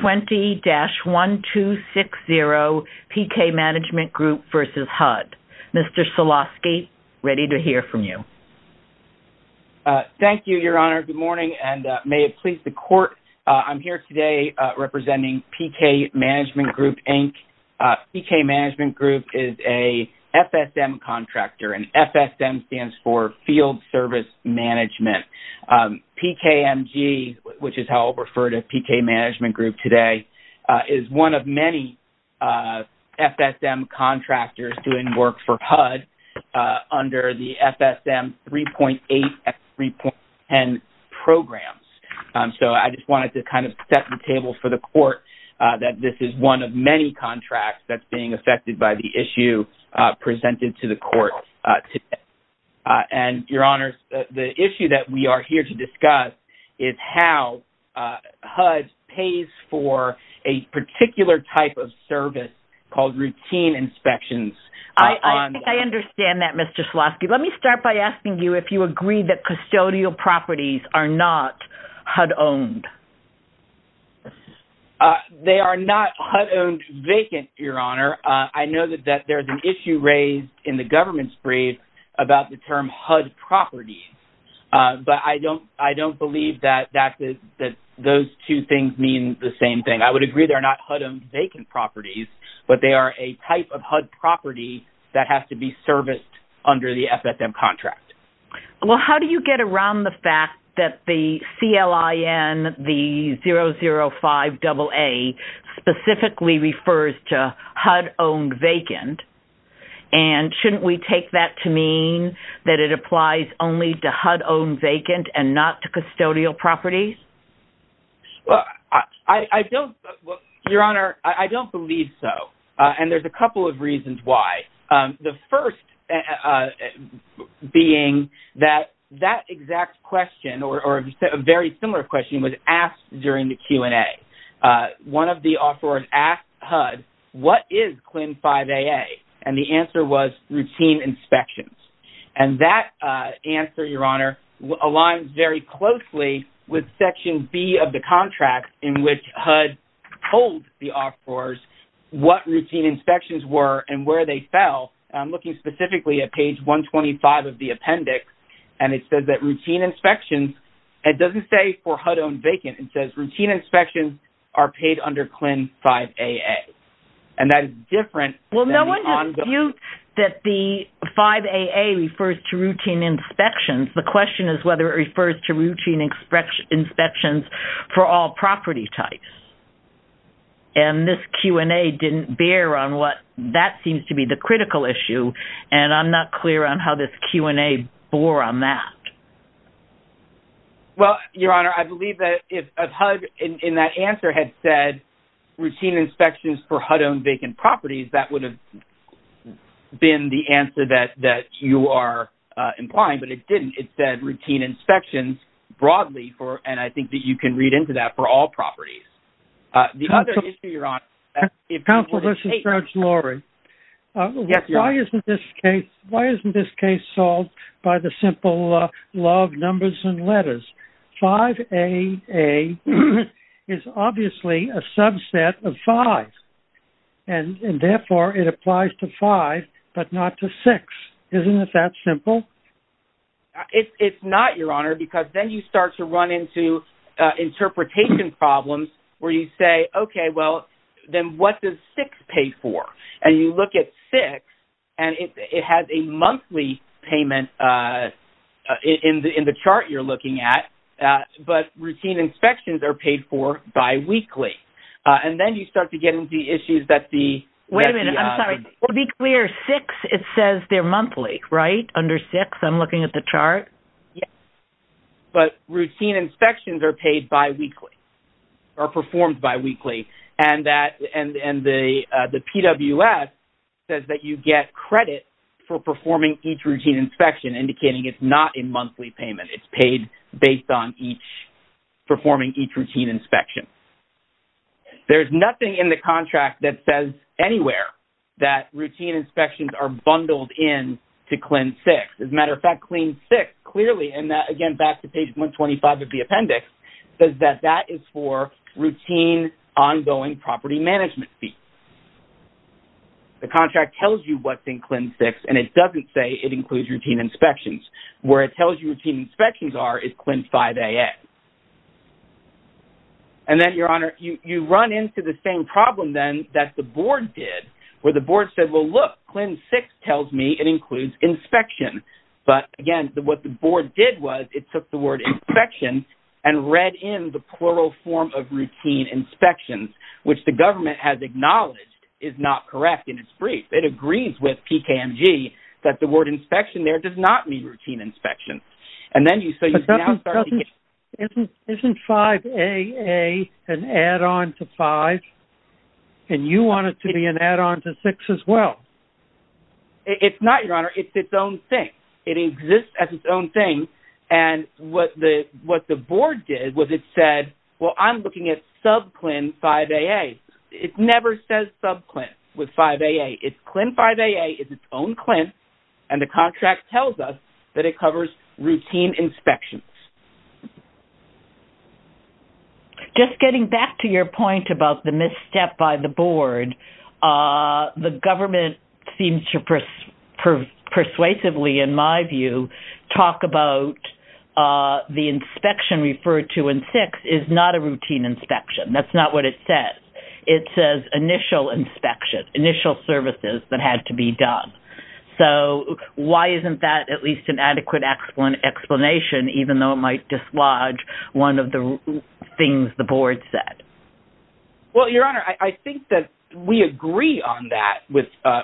20-1260, P.K. Management Group v. HUD. Mr. Solosky, ready to hear from you. Thank you, Your Honor. Good morning, and may it please the Court, I'm here today representing P.K. Management Group, Inc. P.K. Management Group is a FSM contractor, and FSM stands for Field Service Management. P.K.M.G., which is how I'll refer to P.K. Management Group today, is one of many FSM contractors doing work for HUD under the FSM 3.8 and 3.10 programs. So I just wanted to kind of set the table for the Court that this is one of many contracts that's being affected by the issue presented to the Court today. And, Your Honor, the issue that we are here to discuss is how HUD pays for a particular type of service called routine inspections. I think I understand that, Mr. Solosky. Let me start by asking you if you agree that custodial properties are not HUD-owned. They are not HUD-owned vacant, Your Honor. I know that there's an issue raised in the government's brief about the term HUD properties, but I don't believe that those two things mean the same thing. I would agree they're not HUD-owned vacant properties, but they are a type of HUD property that has to be serviced under the FSM contract. Well, how do you get around the fact that the CLIN, the 005AA, specifically refers to HUD-owned vacant? And shouldn't we take that to mean that it applies only to HUD-owned vacant and not to custodial properties? Well, I don't, Your Honor, I don't believe so. And there's a couple of reasons why. The first being that that exact question, or a very similar question, was asked during the Q&A. One of the offerors asked HUD, what is CLIN 005AA? And the answer was routine inspections. And that answer, Your Honor, aligns very closely with Section B of the contract in which HUD told the offerors what routine inspections were and where they fell, looking specifically at page 125 of the appendix. And it says that routine inspections, it doesn't say for HUD-owned vacant, it says routine inspections are paid under CLIN 005AA. And that is different than the ongoing... Well, no one disputes that the 005AA refers to routine inspections. The question is whether it refers to routine inspections for all property types. And this Q&A didn't bear on what that seems to be the critical issue, and I'm not clear on how this Q&A bore on that. Well, Your Honor, I believe that if HUD, in that answer, had said routine inspections for HUD-owned vacant properties, that would have been the answer that you are implying, but it didn't. It said routine inspections broadly for, and I think that you can read into that, for all properties. The other issue, Your Honor... Yes, Your Honor. Why isn't this case, why isn't this case solved by the simple law of numbers and letters? 05AA is obviously a subset of five, and therefore it applies to five, but not to six. Isn't it that simple? It's not, Your Honor, because then you start to run into interpretation problems where you say, okay, well, then what does six pay for? And you look at six, and it has a monthly payment in the chart you're looking at, but routine inspections are paid for biweekly. And then you start to get into the issues that the... Wait a minute. I'm sorry. To be clear, six, it says they're monthly, right? Under six, I'm looking at the chart? Yes. But routine inspections are paid biweekly, are performed biweekly, and the PWS says that you get credit for performing each routine inspection, indicating it's not a monthly payment. It's paid based on each, performing each routine inspection. There's nothing in the contract that says anywhere that routine inspections are bundled in to Clin 6. As a matter of fact, Clin 6 clearly, and again, back to page 125 of the appendix, says that that is for routine ongoing property management fees. The contract tells you what's in Clin 6, and it doesn't say it includes routine inspections. Where it tells you routine inspections are is Clin 5AX. And then, Your Honor, you run into the same problem, then, that the board did, where the But again, what the board did was, it took the word inspection and read in the plural form of routine inspections, which the government has acknowledged is not correct in its brief. It agrees with PKMG that the word inspection there does not mean routine inspection. And then you say you can now start to get... Isn't 5AA an add-on to five? And you want it to be an add-on to six as well? It's not, Your Honor. It's its own thing. It exists as its own thing. And what the board did was, it said, well, I'm looking at sub-Clin 5AA. It never says sub-Clin with 5AA. It's Clin 5AA, it's its own Clin, and the contract tells us that it covers routine inspections. Just getting back to your point about the misstep by the board, the government seems to persuasively, in my view, talk about the inspection referred to in six is not a routine inspection. That's not what it says. It says initial inspection, initial services that have to be done. So why isn't that at least an adequate explanation, even though it might dislodge one of the things the board said? Well, Your Honor, I think that we agree on that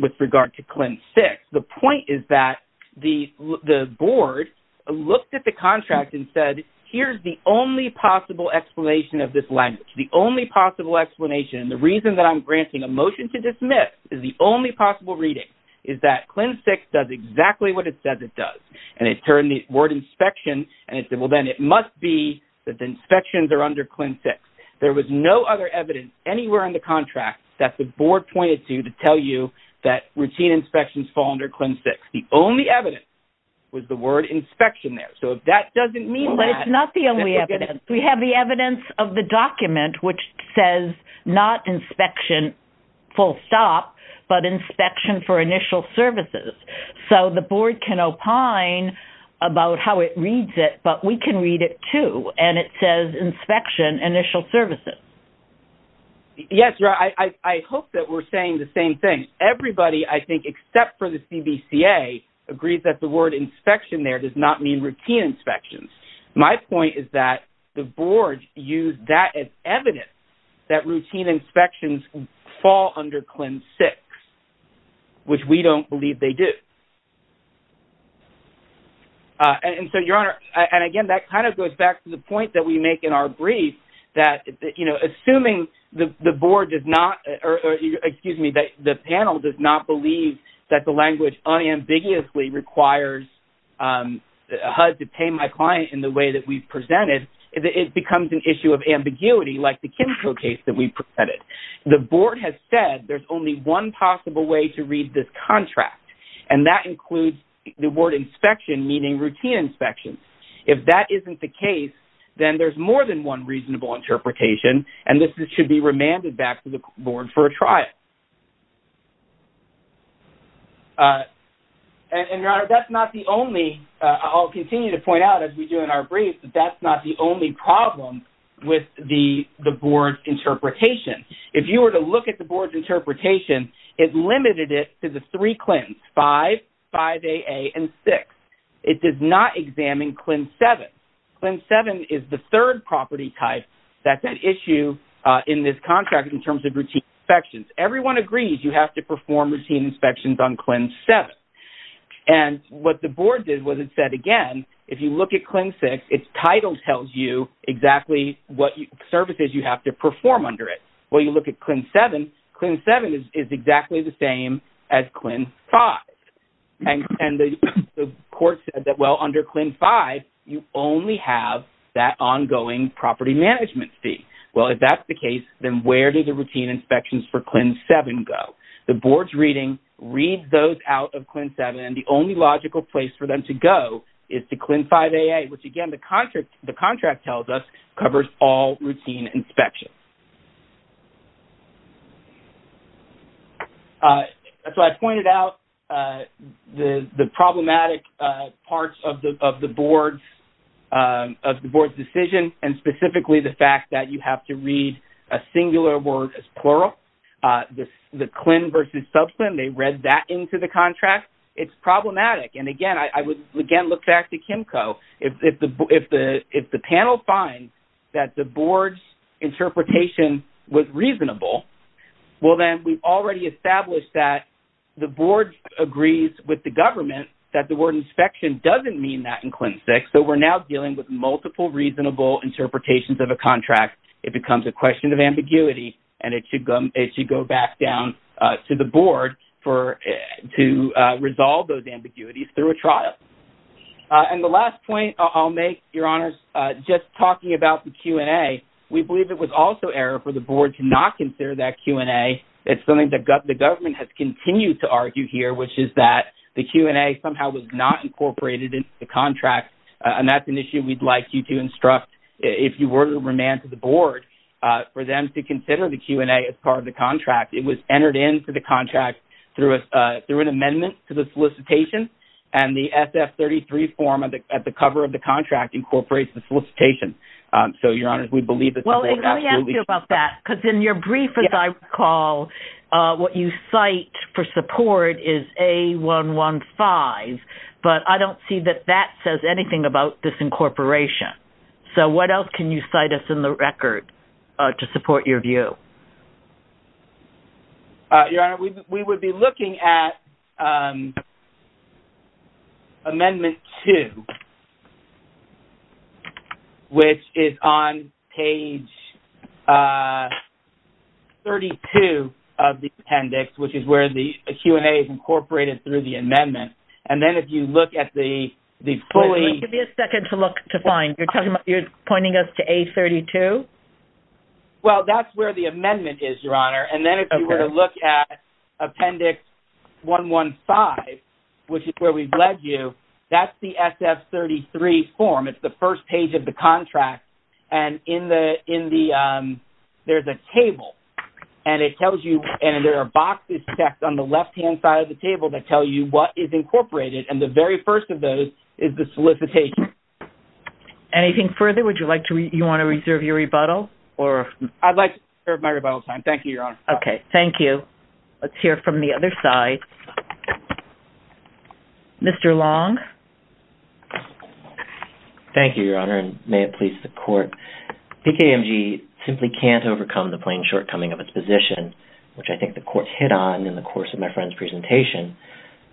with regard to Clin 6. The point is that the board looked at the contract and said, here's the only possible explanation of this language. The only possible explanation, the reason that I'm granting a motion to dismiss is the only possible reading is that Clin 6 does exactly what it says it does. And it turned the word inspection, and it said, well, then it must be that the inspections are under Clin 6. There was no other evidence anywhere in the contract that the board pointed to, to tell you that routine inspections fall under Clin 6. The only evidence was the word inspection there. So if that doesn't mean that- But it's not the only evidence. We have the evidence of the document, which says not inspection, full stop, but inspection for initial services. So the board can opine about how it reads it, but we can read it too. And it says inspection, initial services. Yes, Your Honor, I hope that we're saying the same thing. Everybody, I think, except for the CBCA, agrees that the word inspection there does not mean routine inspections. My point is that the board used that as evidence that routine inspections fall under Clin 6, which we don't believe they do. And so, Your Honor, and again, that kind of goes back to the point that we make in our brief that, you know, assuming the board does not, or excuse me, that the panel does not in the way that we've presented, it becomes an issue of ambiguity, like the chemical case that we've presented. The board has said there's only one possible way to read this contract, and that includes the word inspection, meaning routine inspections. If that isn't the case, then there's more than one reasonable interpretation, and this should be remanded back to the board for a trial. And, Your Honor, that's not the only, I'll continue to point out as we do in our brief, that that's not the only problem with the board's interpretation. If you were to look at the board's interpretation, it limited it to the three CLINs, 5, 5AA, and 6. It does not examine CLIN 7. CLIN 7 is the third property type that's at issue in this contract in terms of routine inspections. Everyone agrees you have to perform routine inspections on CLIN 7. And what the board did was it said, again, if you look at CLIN 6, its title tells you exactly what services you have to perform under it. Well, you look at CLIN 7, CLIN 7 is exactly the same as CLIN 5. And the court said that, well, under CLIN 5, you only have that ongoing property management fee. Well, if that's the case, then where do the routine inspections for CLIN 7 go? The board's reading reads those out of CLIN 7, and the only logical place for them to go is to CLIN 5AA, which, again, the contract tells us covers all routine inspections. So I've pointed out the problematic parts of the board's decision, and specifically the fact that you have to read a singular word as plural. The CLIN versus sub-CLIN, they read that into the contract. It's problematic. And again, I would, again, look back to CHEMCO. If the panel finds that the board's interpretation was reasonable, well, then we've already established that the board agrees with the government that the word inspection doesn't mean that in CLIN 6. So we're now dealing with multiple reasonable interpretations of a contract. It becomes a question of ambiguity, and it should go back down to the board to resolve those ambiguities through a trial. And the last point I'll make, Your Honors, just talking about the Q&A, we believe it was also error for the board to not consider that Q&A. It's something that the government has continued to argue here, which is that the Q&A somehow was not incorporated into the contract. And that's an issue we'd like you to instruct, if you were to remand to the board, for them to consider the Q&A as part of the contract. It was entered into the contract through an amendment to the solicitation, and the SF-33 form at the cover of the contract incorporates the solicitation. So Your Honors, we believe that the board absolutely should- Well, let me ask you about that, because in your brief, as I recall, what you cite for support is A.1.1.5, but I don't see that that says anything about disincorporation. So what else can you cite us in the record to support your view? Your Honor, we would be looking at Amendment 2, which is on page 32 of the appendix, which is where the Q&A is incorporated through the amendment. And then if you look at the fully- Give me a second to look to find. You're pointing us to A.32? Well, that's where the amendment is, Your Honor. And then if you were to look at Appendix 1.1.5, which is where we've led you, that's the SF-33 form. It's the first page of the contract. And in the- there's a table, and it tells you- and there are boxes stacked on the left-hand side of the table that tell you what is incorporated, and the very first of those is the solicitation. Anything further? Would you like to- you want to reserve your rebuttal, or- I'd like to reserve my rebuttal time. Thank you, Your Honor. Okay. Thank you. Let's hear from the other side. Mr. Long? Thank you, Your Honor, and may it please the Court. BKMG simply can't overcome the plain shortcoming of its position, which I think the Court hit on in the course of my friend's presentation.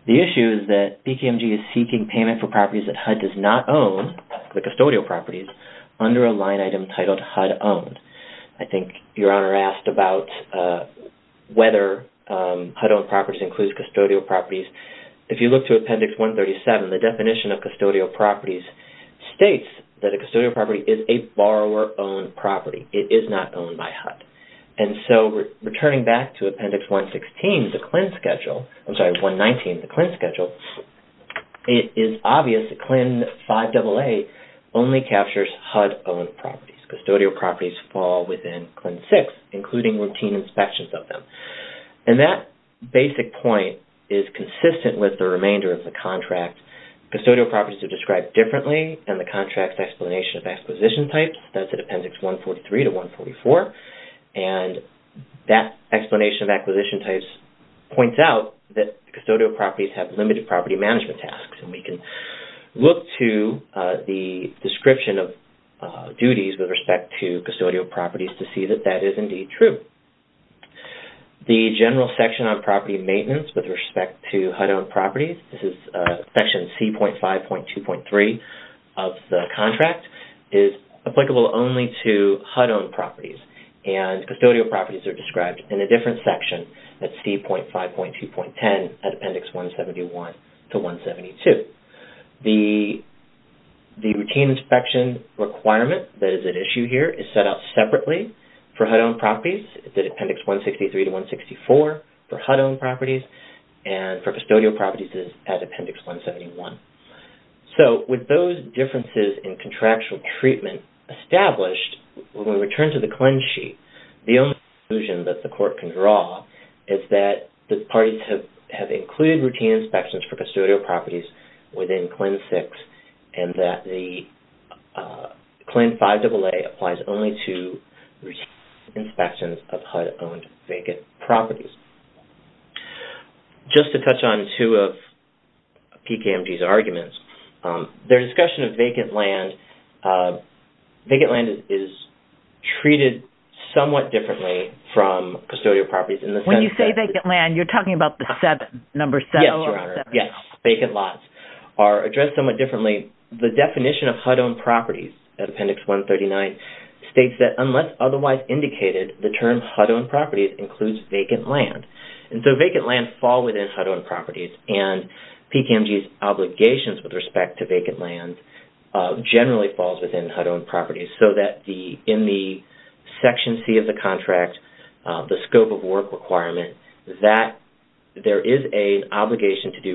The issue is that BKMG is seeking payment for properties that HUD does not own, the custodial properties, under a line item titled HUD-owned. I think Your Honor asked about whether HUD-owned properties includes custodial properties. If you look to Appendix 137, the definition of custodial properties states that a custodial property is a borrower-owned property. It is not owned by HUD. And so, returning back to Appendix 116, the CLIN schedule- I'm sorry, 119, the CLIN schedule, it is obvious that CLIN 5AA only captures HUD-owned properties. Custodial properties fall within CLIN 6, including routine inspections of them. And that basic point is consistent with the remainder of the contract. Custodial properties are described differently in the contract's explanation of acquisition types, that's in Appendix 143 to 144, and that explanation of acquisition types points out that custodial properties have limited property management tasks, and we can look to the description of duties with respect to custodial properties to see that that is indeed true. The general section on property maintenance with respect to HUD-owned properties, this is Section C.5.2.3 of the contract, is applicable only to HUD-owned properties, and custodial properties are described in a different section, that's C.5.2.10, at Appendix 171 to 172. The routine inspection requirement that is at issue here is set out separately for HUD-owned properties, it's at Appendix 163 to 164 for HUD-owned properties, and for custodial properties it is at Appendix 171. So, with those differences in contractual treatment established, when we return to the CLIN sheet, the only conclusion that the court can draw is that the parties have included routine inspections for custodial properties within CLIN 6, and that the CLIN 5AA applies only to routine inspections of HUD-owned vacant properties. Just to touch on two of PKMG's arguments, their discussion of vacant land, vacant land is treated somewhat differently from custodial properties in the sense that- Yes, Your Honor, yes, vacant lots are addressed somewhat differently. The definition of HUD-owned properties at Appendix 139 states that unless otherwise indicated, the term HUD-owned properties includes vacant land. And so, vacant land fall within HUD-owned properties, and PKMG's obligations with respect to vacant land generally falls within HUD-owned properties, so that in the Section C of the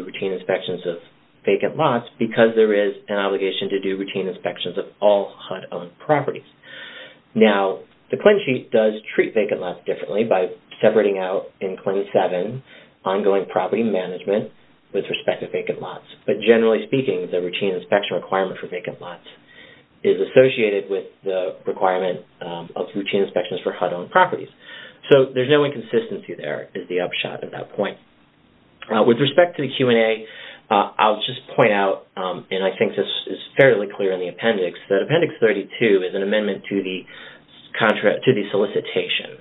routine inspections of vacant lots, because there is an obligation to do routine inspections of all HUD-owned properties. Now, the CLIN sheet does treat vacant lots differently by separating out in CLIN 7 ongoing property management with respect to vacant lots. But generally speaking, the routine inspection requirement for vacant lots is associated with the requirement of routine inspections for HUD-owned properties. So, there's no inconsistency there, is the upshot at that point. With respect to the Q&A, I'll just point out, and I think this is fairly clear in the appendix, that Appendix 32 is an amendment to the solicitation,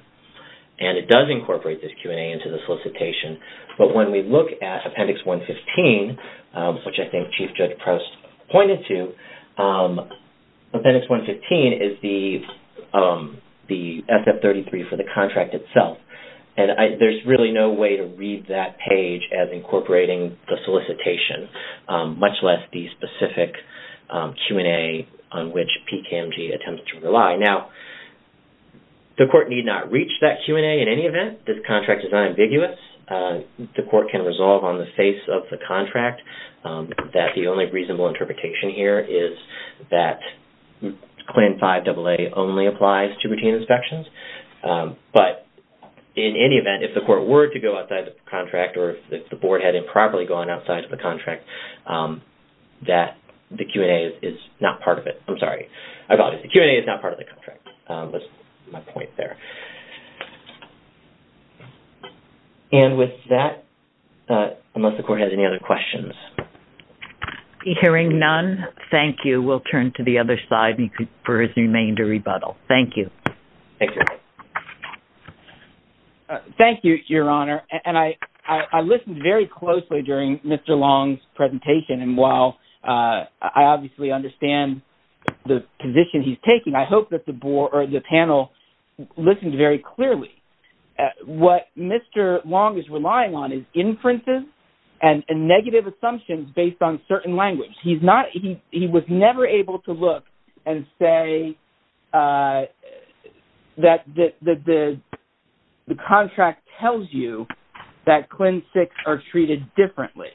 and it does incorporate this Q&A into the solicitation. But when we look at Appendix 115, which I think Chief Judge Proust pointed to, Appendix 115 is the SF-33 for the contract itself. And there's really no way to read that page as incorporating the solicitation, much less the specific Q&A on which PCAMG attempts to rely. Now, the court need not reach that Q&A in any event. This contract is unambiguous. The court can resolve on the face of the contract that the only reasonable interpretation here is that CLIN 5AA only applies to routine inspections. But, in any event, if the court were to go outside of the contract, or if the board had improperly gone outside of the contract, that the Q&A is not part of it. I'm sorry. I apologize. The Q&A is not part of the contract, was my point there. And with that, unless the court has any other questions. Hearing none, thank you. We'll turn to the other side for his remainder rebuttal. Thank you. Thank you, Your Honor. And I listened very closely during Mr. Long's presentation. And while I obviously understand the position he's taking, I hope that the panel listened very clearly. What Mr. Long is relying on is inferences and negative assumptions based on certain language. He was never able to look and say that the contract tells you that CLIN 6 are treated differently.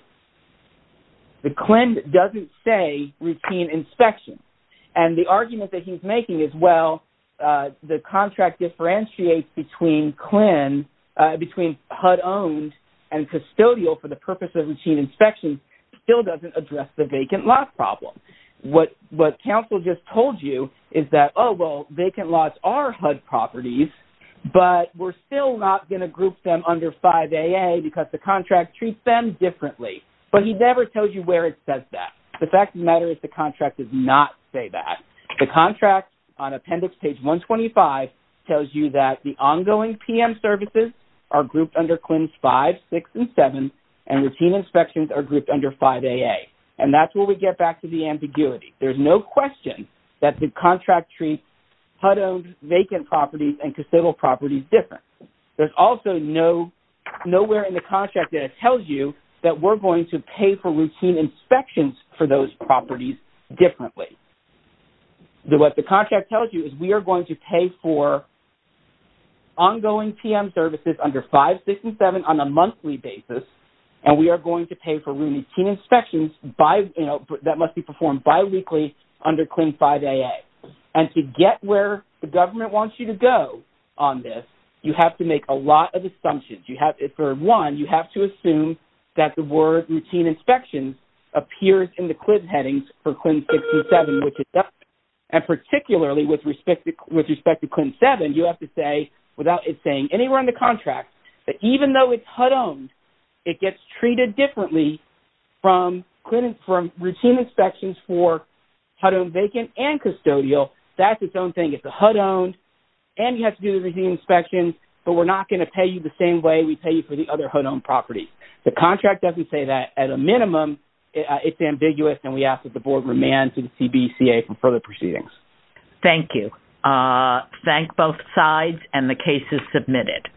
The CLIN doesn't say routine inspection. And the argument that he's making is, well, the contract differentiates between HUD-owned and custodial for the purpose of routine inspection still doesn't address the vacant lot problem. What counsel just told you is that, oh, well, vacant lots are HUD properties, but we're still not going to group them under 5AA because the contract treats them differently. But he never tells you where it says that. The fact of the matter is the contract does not say that. The contract on appendix page 125 tells you that the ongoing PM services are grouped under CLINs 5, 6, and 7, and routine inspections are grouped under 5AA. And that's where we get back to the ambiguity. There's no question that the contract treats HUD-owned vacant properties and custodial properties different. There's also nowhere in the contract that it tells you that we're going to pay for routine inspections for those properties differently. So what the contract tells you is we are going to pay for ongoing PM services under 5, 6, and 7 on a monthly basis. And we are going to pay for routine inspections by, you know, that must be performed biweekly under CLIN 5AA. And to get where the government wants you to go on this, you have to make a lot of assumptions. You have, for one, you have to assume that the word routine inspections appears in the CLIN 7, and particularly with respect to CLIN 7, you have to say without it saying anywhere in the contract that even though it's HUD-owned, it gets treated differently from routine inspections for HUD-owned vacant and custodial. That's its own thing. It's a HUD-owned, and you have to do the routine inspections, but we're not going to pay you the same way we pay you for the other HUD-owned properties. The contract doesn't say that. At a minimum, it's ambiguous, and we ask that the board remand to the CBCA for further proceedings. Thank you. Thank both sides, and the case is submitted.